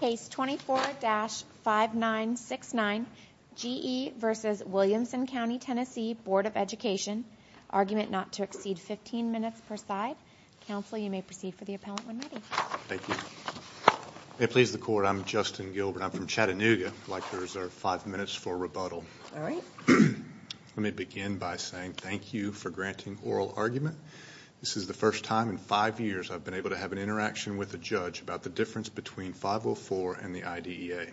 Case 24-5969 G E v. Williamson Co TN Board of Education. Argument not to exceed 15 minutes per side. Counsel you may proceed for the appellant when ready. Thank you. May it please the court I'm Justin Gilbert. I'm from Chattanooga. I'd like to reserve five minutes for rebuttal. All right. Let me begin by saying thank you for granting oral argument. This is the first time in five years I've been able to have an interaction with a judge about the difference between 504 and the IDEA.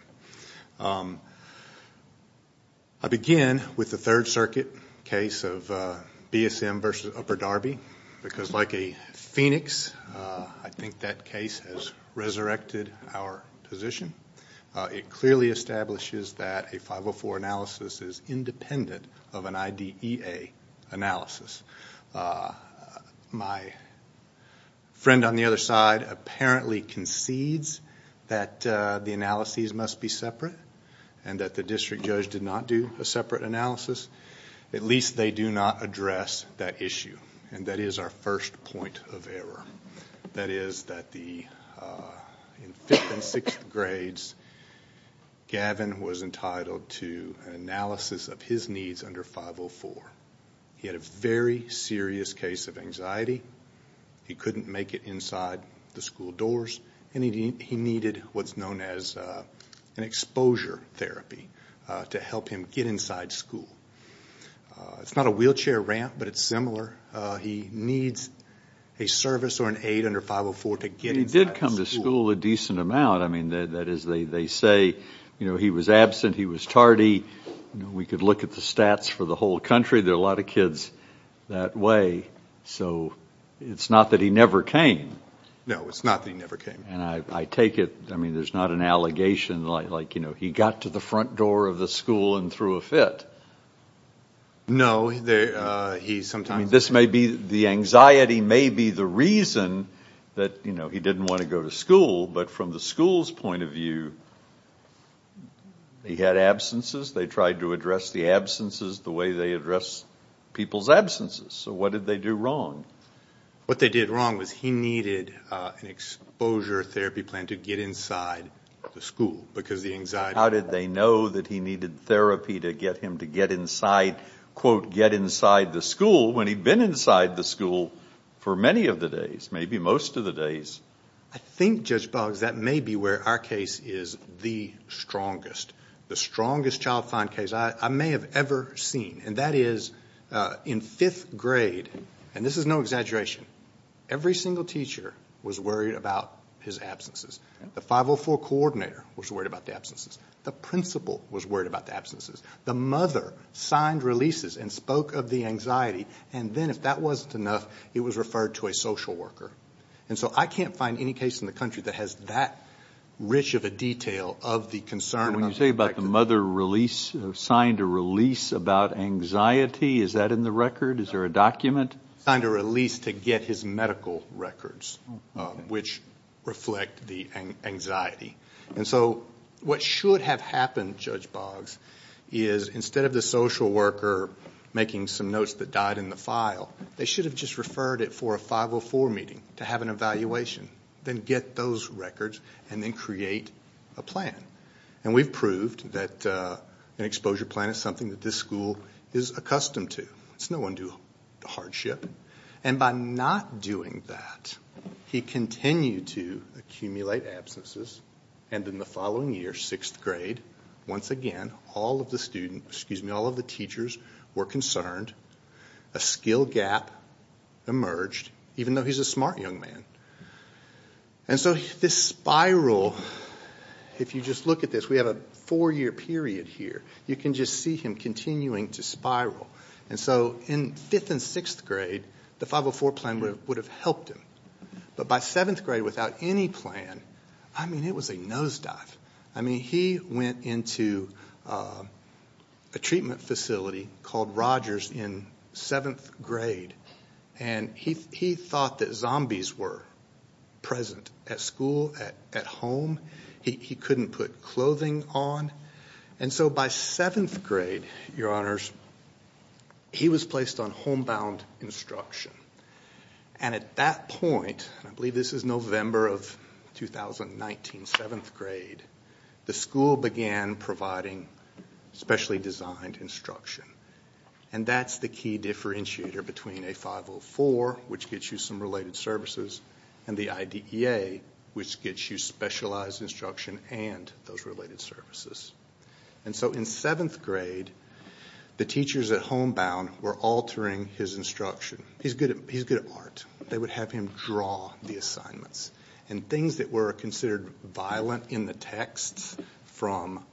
I begin with the third circuit case of BSM v. Upper Darby because like a phoenix I think that case has resurrected our position. It clearly establishes that a 504 analysis is independent of an IDEA analysis. My friend on the other side apparently concedes that the analyses must be separate and that the district judge did not do a separate analysis. At least they do not address that issue and that is our first point of error. That is that in fifth and sixth grades Gavin was entitled to an analysis of his needs under 504. He had a very serious case of anxiety. He couldn't make it inside the school doors and he needed what's known as an exposure therapy to help him get inside school. It's not a wheelchair ramp but similar. He needs a service or an aid under 504 to get inside school. He did come to school a decent amount. They say he was absent, he was tardy. We could look at the stats for the whole country. There are a lot of kids that way so it's not that he never came. No, it's not that he never came. I take it there's not an allegation like he got to the front door of the school and threw a fit. No. The anxiety may be the reason that he didn't want to go to school but from the school's point of view he had absences. They tried to address the absences the way they address people's absences. So what did they do wrong? What they did wrong was he needed an exposure therapy plan to get inside the school because the anxiety. How did they know that he needed therapy to get him to get inside quote get inside the school when he'd been inside the school for many of the days maybe most of the days? I think Judge Boggs that may be where our case is the strongest. The strongest child find case I may have ever seen and that is in fifth grade and this is no exaggeration. Every single teacher was worried about his absences. The 504 coordinator was worried about the absences. The principal was worried about the absences. The mother signed releases and spoke of the anxiety and then if that wasn't enough it was referred to a social worker. And so I can't find any case in the country that has that rich of a detail of the concern. When you say about the mother release signed a release about anxiety is that in the record? Is there a document? Signed a release to get his medical records which reflect the anxiety. And so what should have happened Judge Boggs is instead of the social worker making some notes that died in the file they should have just referred it for a 504 meeting to have an evaluation then get those records and then create a plan. And we've proved that an exposure plan is something that this school is accustomed to. It's no one do hardship and by not doing that he continued to accumulate absences and in the following year sixth grade once again all of the teachers were concerned. A skill gap emerged even though he's a smart young man. And so this spiral if you just look at this we have a four-year period here you can just see him continuing to spiral. And so in fifth and sixth grade the 504 plan would have helped him. But by seventh grade without any plan I mean it was a nosedive. I mean he went into a treatment facility called Rogers in seventh grade and he thought that zombies were present at school at home. He couldn't put clothing on and so by seventh grade your honors he was placed on homebound instruction. And at that point I believe this is November of 2019 seventh grade the school began providing specially designed instruction. And that's the key differentiator between a 504 which gets you some related services and the IDEA which gets you specialized instruction and those related services. And so in seventh grade the teachers at homebound were altering his instruction. He's good at art. They would have him draw the assignments and things that were considered violent in the texts from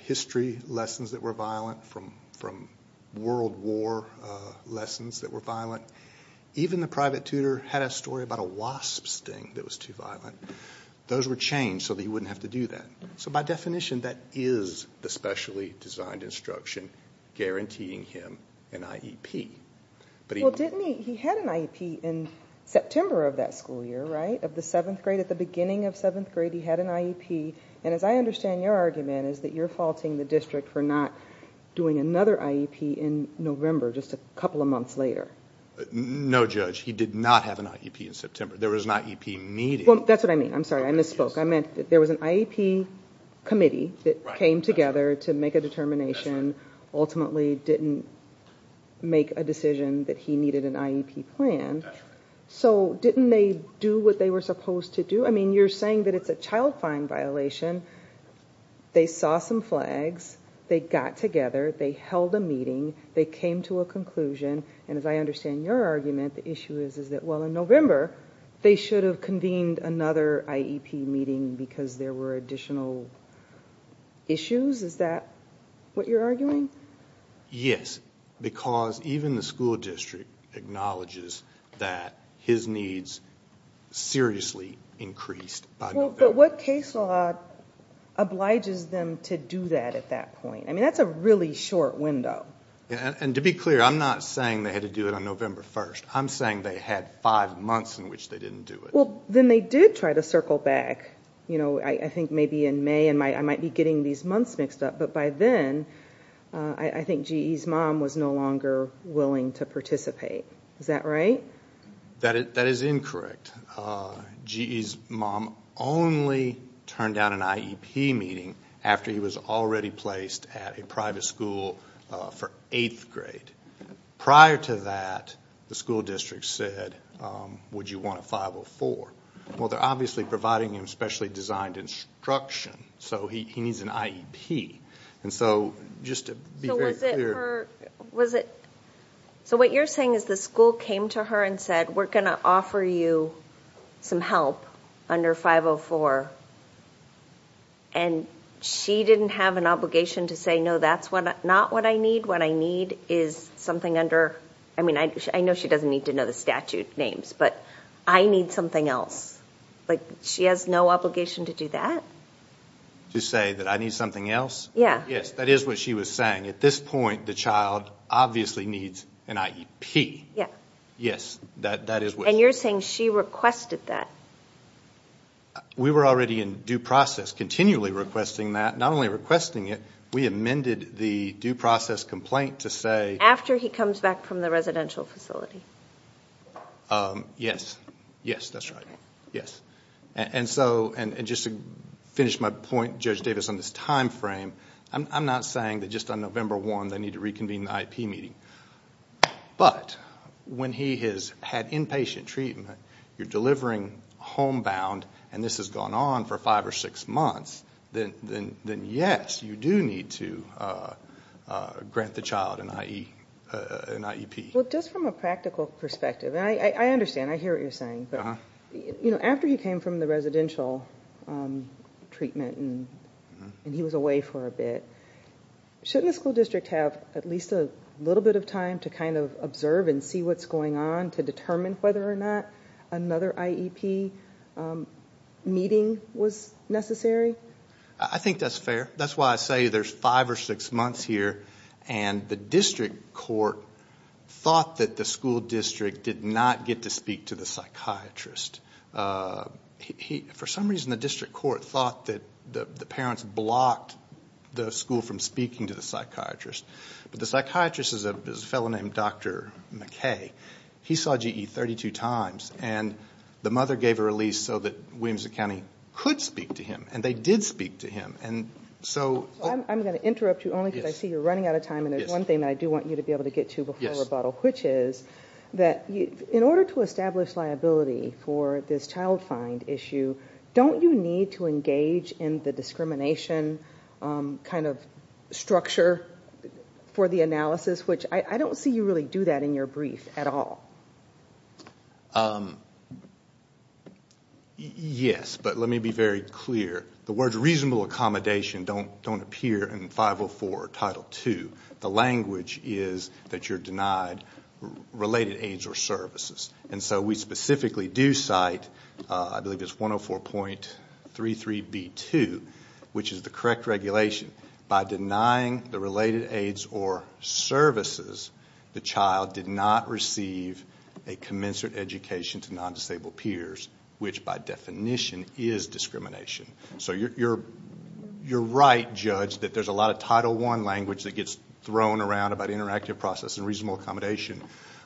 history lessons that were violent from world war lessons that were violent. Even the private tutor had a story about a wasp sting that was too violent. Those were changed so that he wouldn't have to do that. So by definition that is the specially designed instruction guaranteeing him an IEP. Well didn't he he had an IEP in September of that school year of the seventh grade at the beginning of seventh grade he had an IEP. And as I understand your argument is that you're faulting the district for not doing another IEP in November just a couple of months later. No judge he did not have an IEP in September. There was an IEP meeting. That's what I mean. I'm sorry I misspoke. I meant that there was an IEP committee that came together to make a determination ultimately didn't make a decision that he needed an IEP plan. So didn't they do what they were supposed to do? I mean you're saying that it's a child fine violation. They saw some flags. They got together. They held a meeting. They came to a conclusion and as I understand your argument the issue is is that well in November they should have convened another IEP meeting because there were additional issues. Is that what you're arguing? Yes because even the school district acknowledges that his needs seriously increased. But what case law obliges them to do that at that point? I mean that's a really short window. And to be clear I'm not saying they had to do it on November 1st. I'm saying they had five months in which they didn't do it. Well then they did try to circle back you know I think maybe in May and I might be getting these months mixed up but by then I think GE's mom was no longer willing to participate. Is that right? That is incorrect. GE's mom only turned down an IEP meeting after he was already placed at a private school for eighth grade. Prior to that the school district said would you want 504? Well they're obviously providing him specially designed instruction so he needs an IEP. And so just to be very clear. So what you're saying is the school came to her and said we're going to offer you some help under 504 and she didn't have an obligation to say no that's what not what I need. What I need is something under I mean I know she doesn't need to know the statute names but I need something else. Like she has no obligation to do that? To say that I need something else? Yeah. Yes that is what she was saying at this point the child obviously needs an IEP. Yeah. Yes that that is what. And you're saying she requested that. We were already in due process continually requesting that not only requesting it we amended the due process complaint to say. After he comes back from the residential facility. Yes. Yes that's right. Yes. And so and just to finish my point Judge Davis on this time frame I'm not saying that just on November 1 they need to reconvene the IEP meeting. But when he has had inpatient treatment you're delivering homebound and this has gone on for five or six months then yes you do need to grant the child an IEP. Well just from a practical perspective and I understand I hear what you're saying but you know after he came from the residential treatment and he was away for a bit shouldn't the school district have at least a little bit of time to kind of observe and see what's going on to determine whether or not another IEP meeting was necessary? I think that's fair that's why I say there's five or six months here and the district court thought that the school district did not get to speak to the psychiatrist. For some reason the district court thought that the parents blocked the school from speaking to the psychiatrist. But the psychiatrist is a fellow named Dr. McKay. He saw GE 32 times and the mother gave a release so that Williamson County could speak to him and they did speak to him. I'm going to interrupt you only because I see you're running out of time and there's one thing that I do want you to be able to get to before rebuttal which is that in order to establish liability for this child find issue don't you need to engage in the discrimination kind of structure for the analysis which I don't see you really do that in your brief at all. Yes, but let me be very clear the words reasonable accommodation don't don't appear in 504 Title II. The language is that you're denied related aids or services and so we specifically do cite I believe it's 104.33 B2 which is the correct regulation by denying the related aids or services the child did not receive a commensurate education to non-disabled peers which by definition is discrimination. So you're right judge that there's a lot of Title I language that gets thrown around about interactive process and reasonable accommodation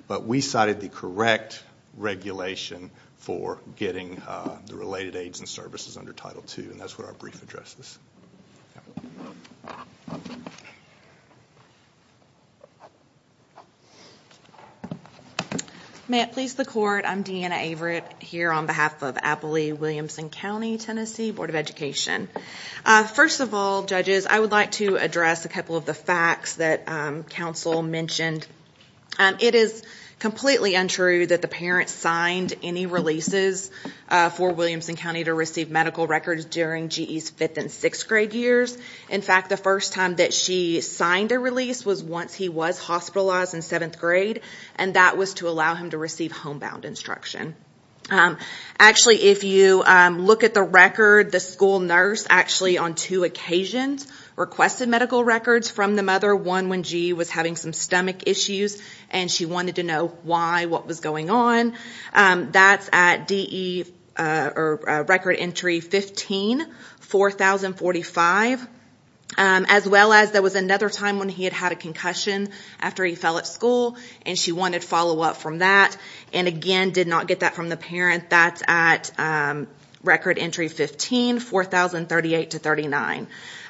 but we cited the correct regulation for getting the related aids and services under Title II and that's what our May it please the court I'm Deanna Averitt here on behalf of Appley Williamson County Tennessee Board of Education. First of all judges I would like to address a couple of the facts that counsel mentioned. It is completely untrue that the parents signed any releases for Williamson County to receive medical records during GE's fifth and sixth grade years. In fact the first time that she signed a release was once he was hospitalized in seventh grade and that was to allow him to receive homebound instruction. Actually if you look at the record the school nurse actually on two occasions requested medical records from the mother. One when GE was having some stomach issues and she wanted to know why what was going on that's at DE or record entry 15 4045 as well as there was another time when he had had a concussion after he fell at school and she wanted follow-up from that and again did not get that from the parent that's at record entry 15 4038 to 39.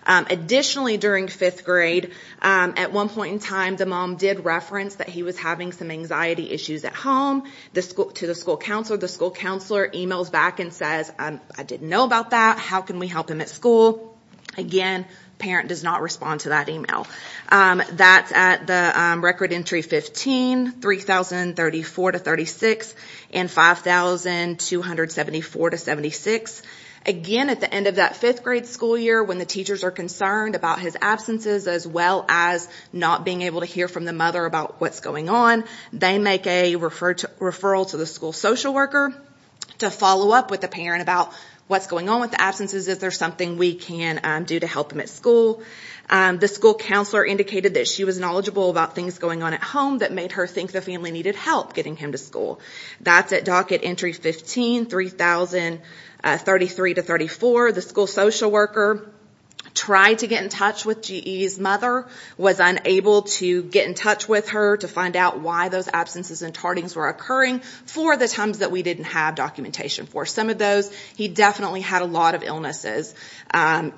Additionally during fifth grade at one point in time the mom did reference that he was having some anxiety issues at home the school to the school counselor the school counselor emails back and says I didn't know about that how can we help him at school again parent does not respond to that email that's at the record entry 15 3034 to 36 and 5274 to 76. Again at the end of that fifth grade school year when the teachers are concerned about his absences as well as not being able to hear from the mother about what's going on they make a refer to referral to the school social worker to follow up with the parent about what's going on with the absences is there something we can do to help them at school. The school counselor indicated that she was knowledgeable about things going on at home that made her think the family needed help getting him to school that's at docket entry 15 3033 to 34. The school social worker tried to get in touch with GE's mother was unable to get in with her to find out why those absences and tardings were occurring for the times that we didn't have documentation for some of those he definitely had a lot of illnesses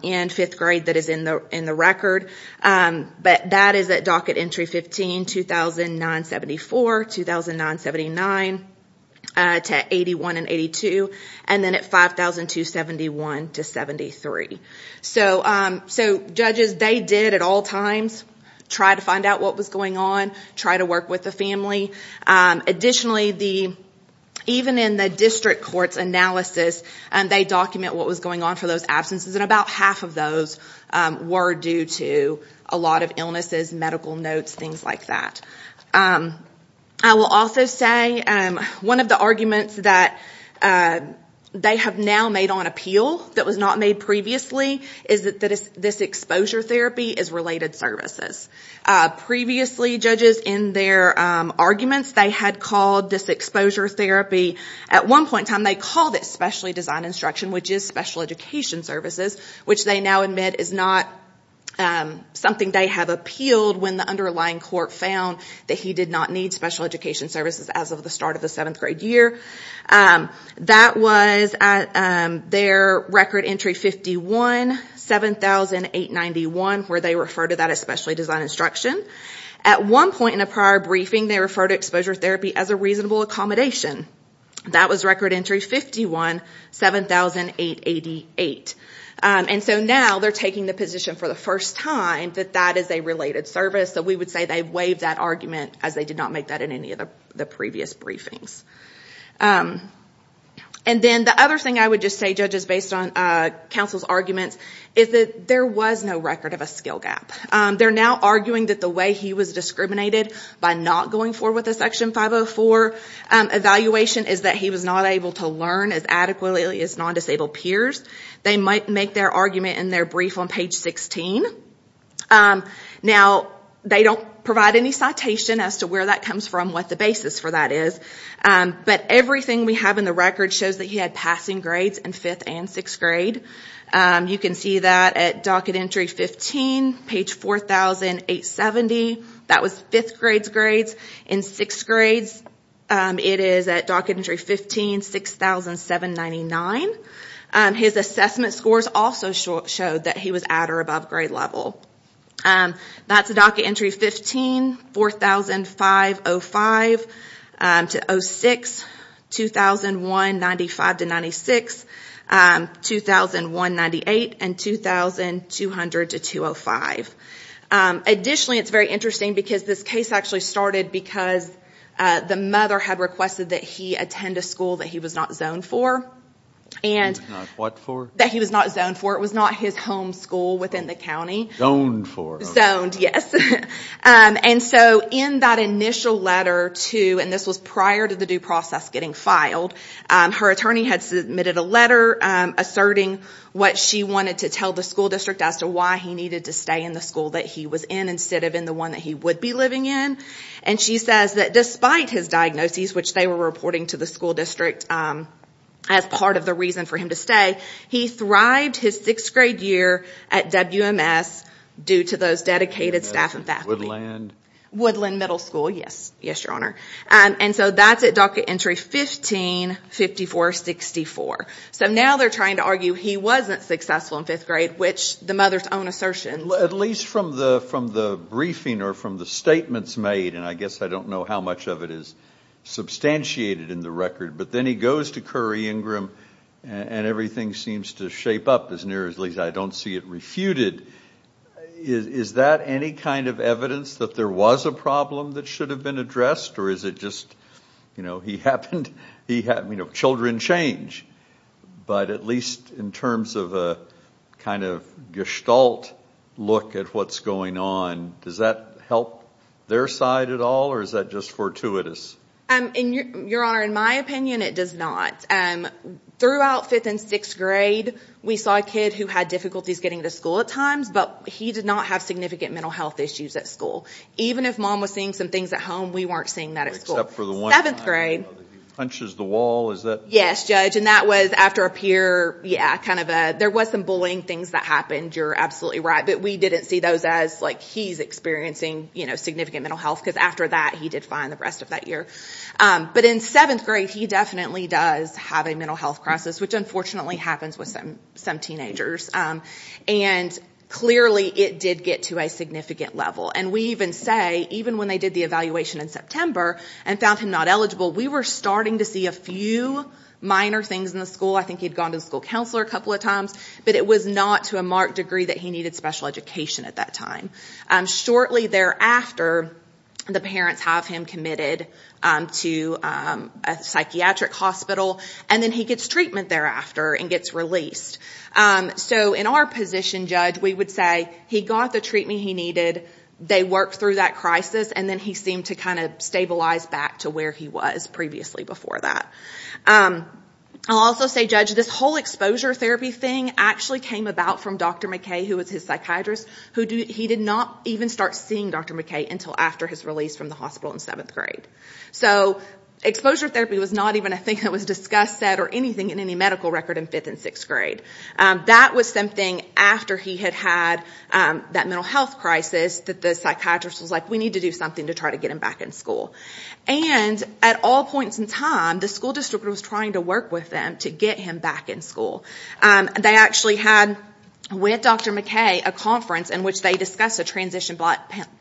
in fifth grade that is in the in the record but that is at docket entry 15 2009 74 2009 79 to 81 and 82 and then at 5271 to 73. So judges they did at all times try to find out what was going on try to work with the family additionally the even in the district court's analysis and they document what was going on for those absences and about half of those were due to a lot of illnesses medical notes things like that. I will also say one of the arguments that they have now made on appeal that was not made previously is that that is this exposure therapy is related services. Previously judges in their arguments they had called this exposure therapy at one point time they called it specially designed instruction which is special education services which they now admit is not something they have appealed when the underlying court found that he did not need special education services as of the start of the seventh grade year. That was at their record entry 51 7891 where they refer to that especially design instruction at one point in a prior briefing they refer to exposure therapy as a reasonable accommodation. That was record entry 51 7888 and so now they're taking the position for the first time that that is a related service so we would say they've waived that argument as they did not make that in any of the previous briefings. And then the other thing I would just say judges based on counsel's arguments is that there was no record of a skill gap. They're now arguing that the way he was discriminated by not going forward with a section 504 evaluation is that he was not able to learn as adequately as non-disabled peers. They might make their argument in their brief on page 16. Now they don't provide any citation as to where that comes from what the basis for that is but everything we have in the record shows that he had passing grades in fifth and sixth grade. You can see that at docket entry 15 page 4870 that was fifth grade's grades in sixth grade it is at docket entry 15 6799. His assessment scores also showed that he was at or above grade level. That's a docket entry 15 4505 to 06, 2195 to 96, 2198 and 2200 to 205. Additionally it's very interesting because this case actually started because the mother had requested that he attend a school that he was not zoned for and what for that he was not zoned for it was not his home school within the county. Zoned for zoned yes and so in that initial letter to and this was prior to the due process getting filed her attorney had submitted a letter asserting what she wanted to tell the school district as why he needed to stay in the school that he was in instead of in the one that he would be living in and she says that despite his diagnoses which they were reporting to the school district as part of the reason for him to stay he thrived his sixth grade year at WMS due to those dedicated staff and faculty. Woodland middle school yes yes your honor and so that's at docket entry 15 5464. So now they're trying to argue he wasn't successful in fifth grade which the mother's own assertion at least from the from the briefing or from the statements made and I guess I don't know how much of it is substantiated in the record but then he goes to Curry Ingram and everything seems to shape up as near as least I don't see it refuted is is that any kind of evidence that there was a problem that should have been addressed or is it just you know he happened he had you know children change but at least in terms of a kind of gestalt look at what's going on does that help their side at all or is that just fortuitous? Your honor in my opinion it does not um throughout fifth and sixth grade we saw a kid who had difficulties getting to school at times but he did not have significant mental health issues at school even if mom was seeing some we weren't seeing that at school except for the seventh grade punches the wall is that yes judge and that was after a peer yeah kind of a there was some bullying things that happened you're absolutely right but we didn't see those as like he's experiencing you know significant mental health because after that he did fine the rest of that year but in seventh grade he definitely does have a mental health crisis which unfortunately happens with some some teenagers and clearly it did get to a significant level and we even say even when they did the evaluation in September and found him not eligible we were starting to see a few minor things in the school I think he'd gone to the school counselor a couple of times but it was not to a marked degree that he needed special education at that time shortly thereafter the parents have him committed to a psychiatric hospital and then he gets treatment thereafter and gets released um so in our position judge we would say he got the treatment he needed they worked through that crisis and then he seemed to kind of stabilize back to where he was previously before that um I'll also say judge this whole exposure therapy thing actually came about from Dr. McKay who was his psychiatrist who did he did not even start seeing Dr. McKay until after his release from the hospital in seventh grade so exposure therapy was not even a thing that was discussed said or in any medical record in fifth and sixth grade that was something after he had had that mental health crisis that the psychiatrist was like we need to do something to try to get him back in school and at all points in time the school district was trying to work with them to get him back in school they actually had with Dr. McKay a conference in which they discussed a transition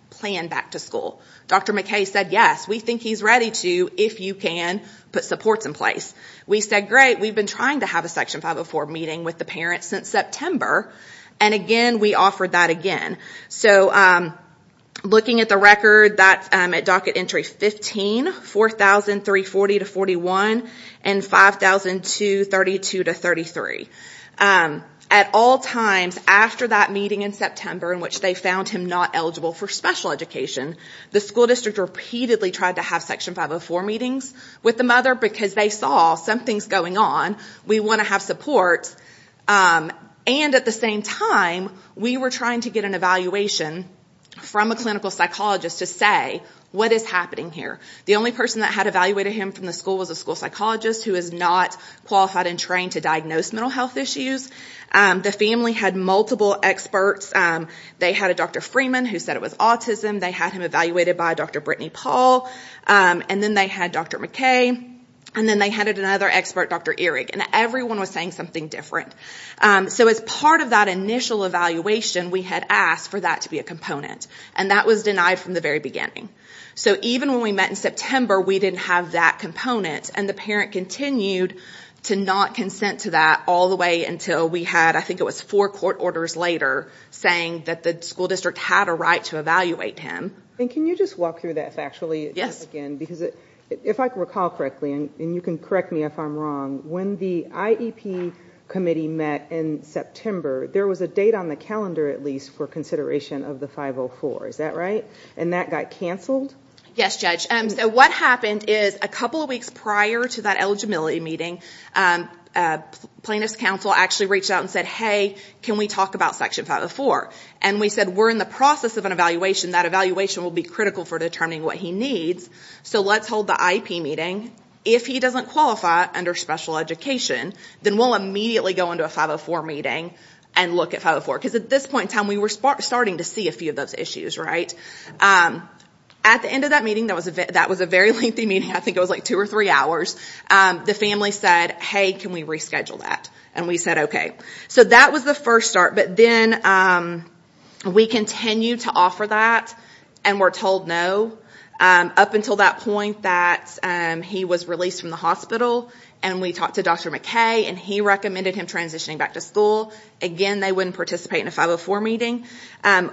plan back to school Dr. McKay said yes we think he's ready to if you can put supports in we said great we've been trying to have a section 504 meeting with the parents since September and again we offered that again so um looking at the record that at docket entry 15 4,340 to 41 and 5,232 to 33 at all times after that meeting in September in which they found him not eligible for special education the school district repeatedly tried to have section 504 meetings with the mother because they saw something's going on we want to have support and at the same time we were trying to get an evaluation from a clinical psychologist to say what is happening here the only person that had evaluated him from the school was a school psychologist who is not qualified and trained to diagnose mental health issues the family had multiple experts they had a Dr. Freeman who said it was autism they had him evaluated by Dr. Brittany Paul and then they had Dr. McKay and then they had another expert Dr. Erick and everyone was saying something different so as part of that initial evaluation we had asked for that to be a component and that was denied from the very beginning so even when we met in September we didn't have that component and the parent continued to not consent to that all the way until we had I think it was four court orders later saying that the school district had a right to evaluate him and can you just walk through that factually yes again because if I recall correctly and you can correct me if I'm wrong when the IEP committee met in September there was a date on the calendar at least for consideration of the 504 is that right and that got canceled yes judge and so what happened is a couple of weeks prior to that eligibility meeting plaintiff's counsel actually reached out and said hey can we talk about section 504 and we said we're in the process of an evaluation will be critical for determining what he needs so let's hold the IEP meeting if he doesn't qualify under special education then we'll immediately go into a 504 meeting and look at 504 because at this point in time we were starting to see a few of those issues right at the end of that meeting that was a bit that was a very lengthy meeting I think it was like two or three hours the family said hey can we reschedule that and we said okay so that was the first start but then we continued to offer that and were told no up until that point that he was released from the hospital and we talked to Dr. McKay and he recommended him transitioning back to school again they wouldn't participate in a 504 meeting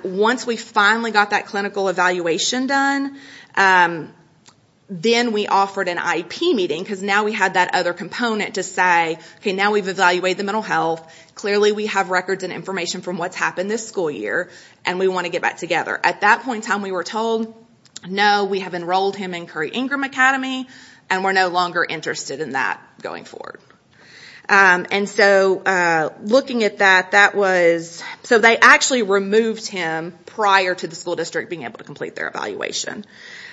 once we finally got that clinical evaluation done then we offered an IEP meeting because now we had that other component to say now we've evaluated the mental health clearly we have records and information from what's happened this school year and we want to get back together at that point in time we were told no we have enrolled him in Curry Ingram Academy and we're no longer interested in that going forward and so looking at that that was so they actually removed him prior to the school district able to complete their evaluation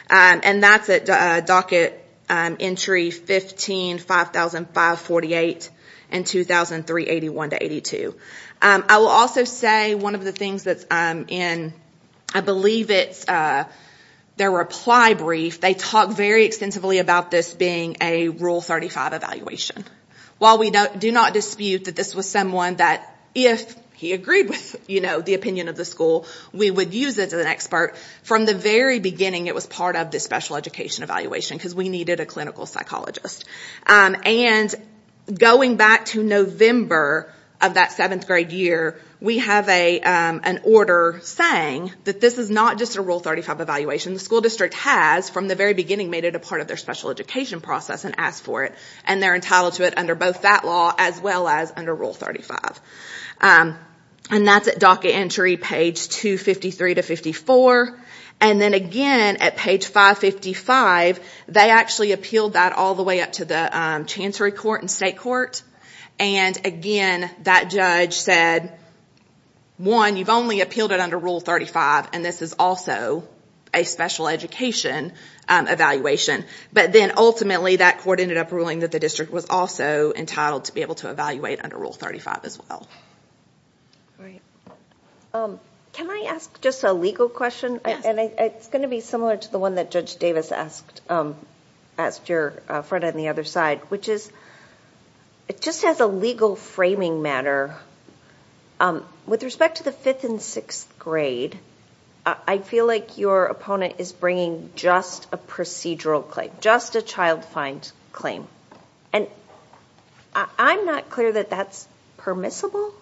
and that's at docket entry 15 5005 48 and 2003 81 to 82 I will also say one of the things that's in I believe it's their reply brief they talk very extensively about this being a rule 35 evaluation while we don't do not dispute that this was someone that if he agreed with you know the opinion of the school we would use it as an expert from the very beginning it was part of the special education evaluation because we needed a clinical psychologist and going back to November of that seventh grade year we have a an order saying that this is not just a rule 35 evaluation the school district has from the very beginning made it a part of their special education process and asked for it and they're entitled to it under both that law as well as under rule 35 and that's at docket entry page 253 to 54 and then again at page 555 they actually appealed that all the way up to the chancery court and state court and again that judge said one you've only appealed it under rule 35 and this is also a special education evaluation but then ultimately that court ended up ruling that the district was also entitled to be able to evaluate under rule 35 as well right um can i ask just a legal question and it's going to be similar to the one that judge davis asked um asked your friend on the other side which is it just has a legal framing matter um with respect to the fifth and sixth grade i feel like your opponent is bringing just a procedural claim just a child find claim and i'm not clear that that's permissible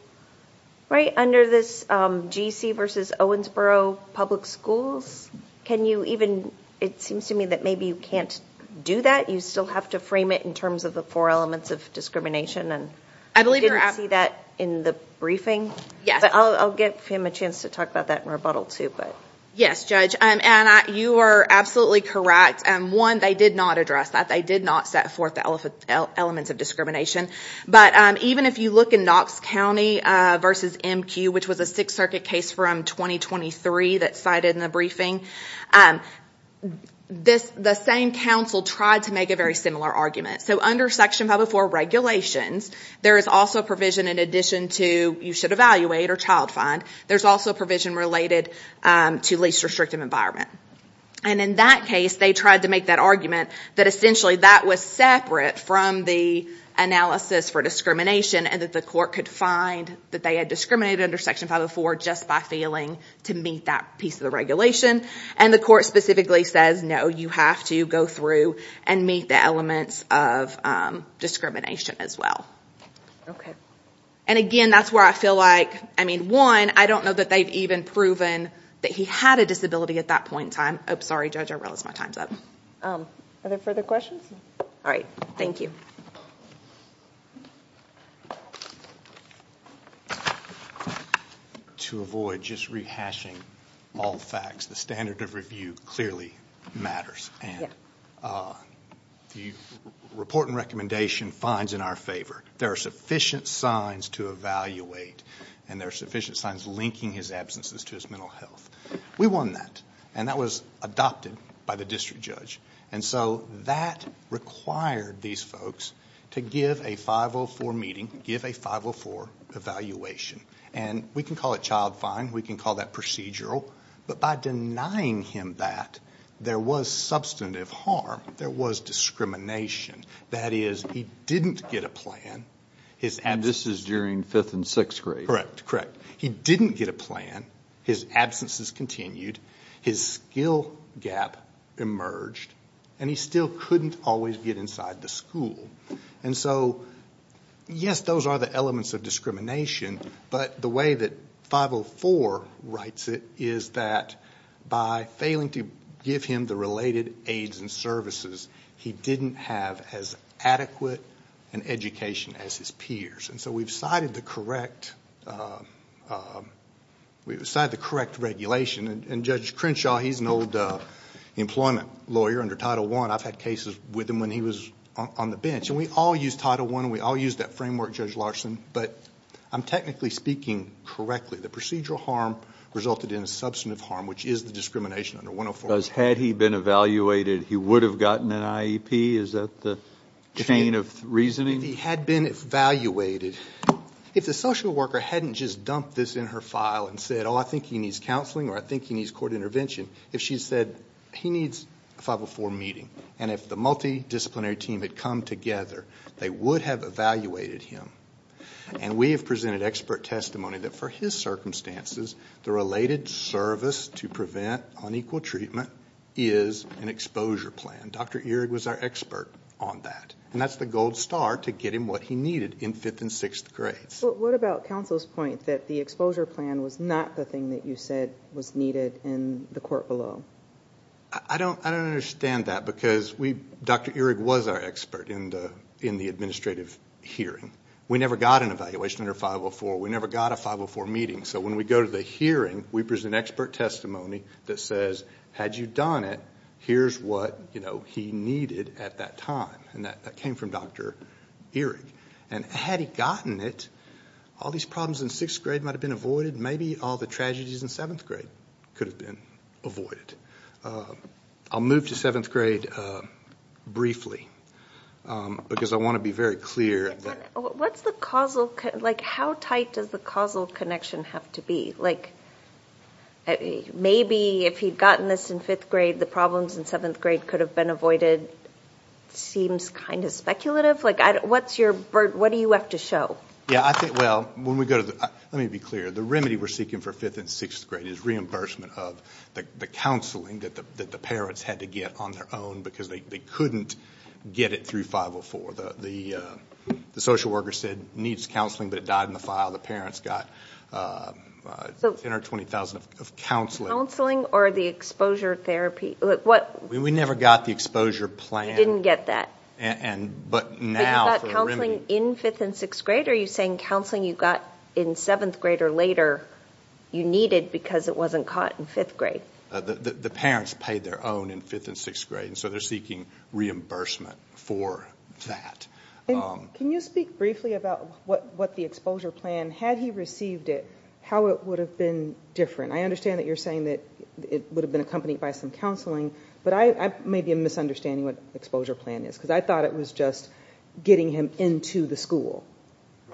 right under this um gc versus owensboro public schools can you even it seems to me that maybe you can't do that you still have to frame it in terms of the four elements of discrimination and i believe you didn't see that in the briefing yes i'll give him a chance to talk about that in rebuttal too but yes judge um and you are absolutely correct and one they did not address that they did not set forth the elephant elements of discrimination but um even if you look in knox county uh versus mq which was a sixth circuit case from 2023 that cited in the briefing um this the same council tried to make a very similar argument so under section 504 regulations there is also provision in addition to you should evaluate or child find there's also provision related um to least restrictive environment and in that case they tried to make that argument that essentially that was separate from the analysis for discrimination and that the court could find that they had discriminated under section 504 just by failing to meet that piece of the regulation and the court specifically says no you have to go through and meet the elements of discrimination as well okay and again that's where i feel like one i don't know that they've even proven that he had a disability at that point in time i'm sorry judge i realized my time's up um are there further questions all right thank you to avoid just rehashing all facts the standard of review clearly matters and the report and recommendation finds in our favor there are sufficient signs to evaluate and there are sufficient signs linking his absences to his mental health we won that and that was adopted by the district judge and so that required these folks to give a 504 meeting give a 504 evaluation and we can call it child fine we can call that procedural but by denying him that there was substantive harm there was discrimination that is he didn't get a plan his and this is during fifth and sixth grade correct correct he didn't get a plan his absences continued his skill gap emerged and he still couldn't always get inside the school and so yes those are the elements of discrimination but the way that 504 writes it is that by failing to give him the related aides and services he didn't have as adequate an education as his peers and so we've cited the correct uh we've decided the correct regulation and judge crenshaw he's an old uh employment lawyer under title one i've had cases with him when he was on the bench and we all use title one we all use that framework judge larson but i'm technically speaking correctly the procedural harm resulted in a substantive harm which is the discrimination under 104 because had he been evaluated he would have gotten an iep is that the chain of reasoning he had been evaluated if the social worker hadn't just dumped this in her file and said oh i think he needs counseling or i think he needs court intervention if she said he needs a 504 meeting and if the multidisciplinary team had come together they would have evaluated him and we have presented expert testimony that for his circumstances the related service to prevent unequal treatment is an exposure plan dr eric was our expert on that and that's the gold star to get him what he needed in fifth and sixth grades what about counsel's point that the exposure plan was not the thing that you said was needed in the court below i don't i don't understand that because we eric was our expert in the in the administrative hearing we never got an evaluation under 504 we never got a 504 meeting so when we go to the hearing we present expert testimony that says had you done it here's what you know he needed at that time and that came from dr eric and had he gotten it all these problems in sixth grade might have been avoided maybe all the tragedies in could have been avoided i'll move to seventh grade briefly because i want to be very clear what's the causal like how tight does the causal connection have to be like maybe if he'd gotten this in fifth grade the problems in seventh grade could have been avoided seems kind of speculative like i what's your bird what do you have to show yeah i think well when we go to the let me be the remedy we're seeking for fifth and sixth grade is reimbursement of the counseling that the that the parents had to get on their own because they couldn't get it through 504 the the social worker said needs counseling but it died in the file the parents got ten or twenty thousand of counseling or the exposure therapy look what we never got the exposure plan didn't get that and but now counseling in fifth and sixth grade are you saying counseling you got in seventh grade or later you needed because it wasn't caught in fifth grade the the parents paid their own in fifth and sixth grade and so they're seeking reimbursement for that um can you speak briefly about what what the exposure plan had he received it how it would have been different i understand that you're saying that it would have been accompanied by some counseling but i i may be a misunderstanding what exposure plan is because i thought it was just getting him into the school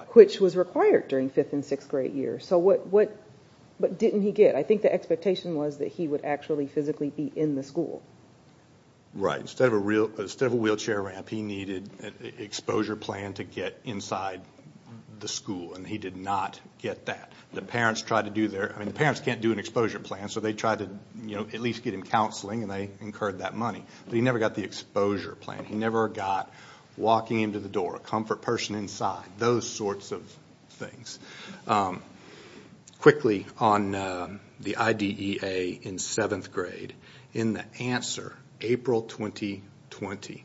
which was required during fifth and sixth grade year so what what but didn't he get i think the expectation was that he would actually physically be in the school right instead of a real instead of a wheelchair ramp he needed an exposure plan to get inside the school and he did not get that the parents tried to do their i mean the parents can't do an exposure plan so they tried to you know at least get him counseling and they incurred that money but he never got the exposure plan he never got walking into the door a comfort person inside those sorts of things um quickly on the idea in seventh grade in the answer april 2020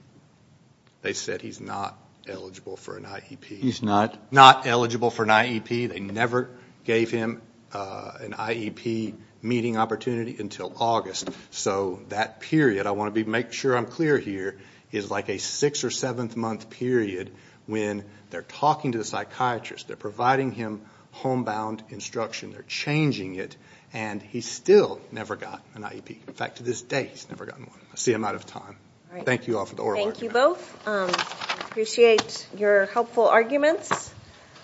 they said he's not eligible for an iep he's not not eligible for an iep they never gave him uh an iep meeting opportunity until august so that period i want to be make sure i'm clear here is like a six or seventh month period when they're talking to the psychiatrist they're providing him homebound instruction they're changing it and he still never got an iep in fact to this day he's never gotten one i see i'm out of time thank you all for the thank you both um appreciate your helpful arguments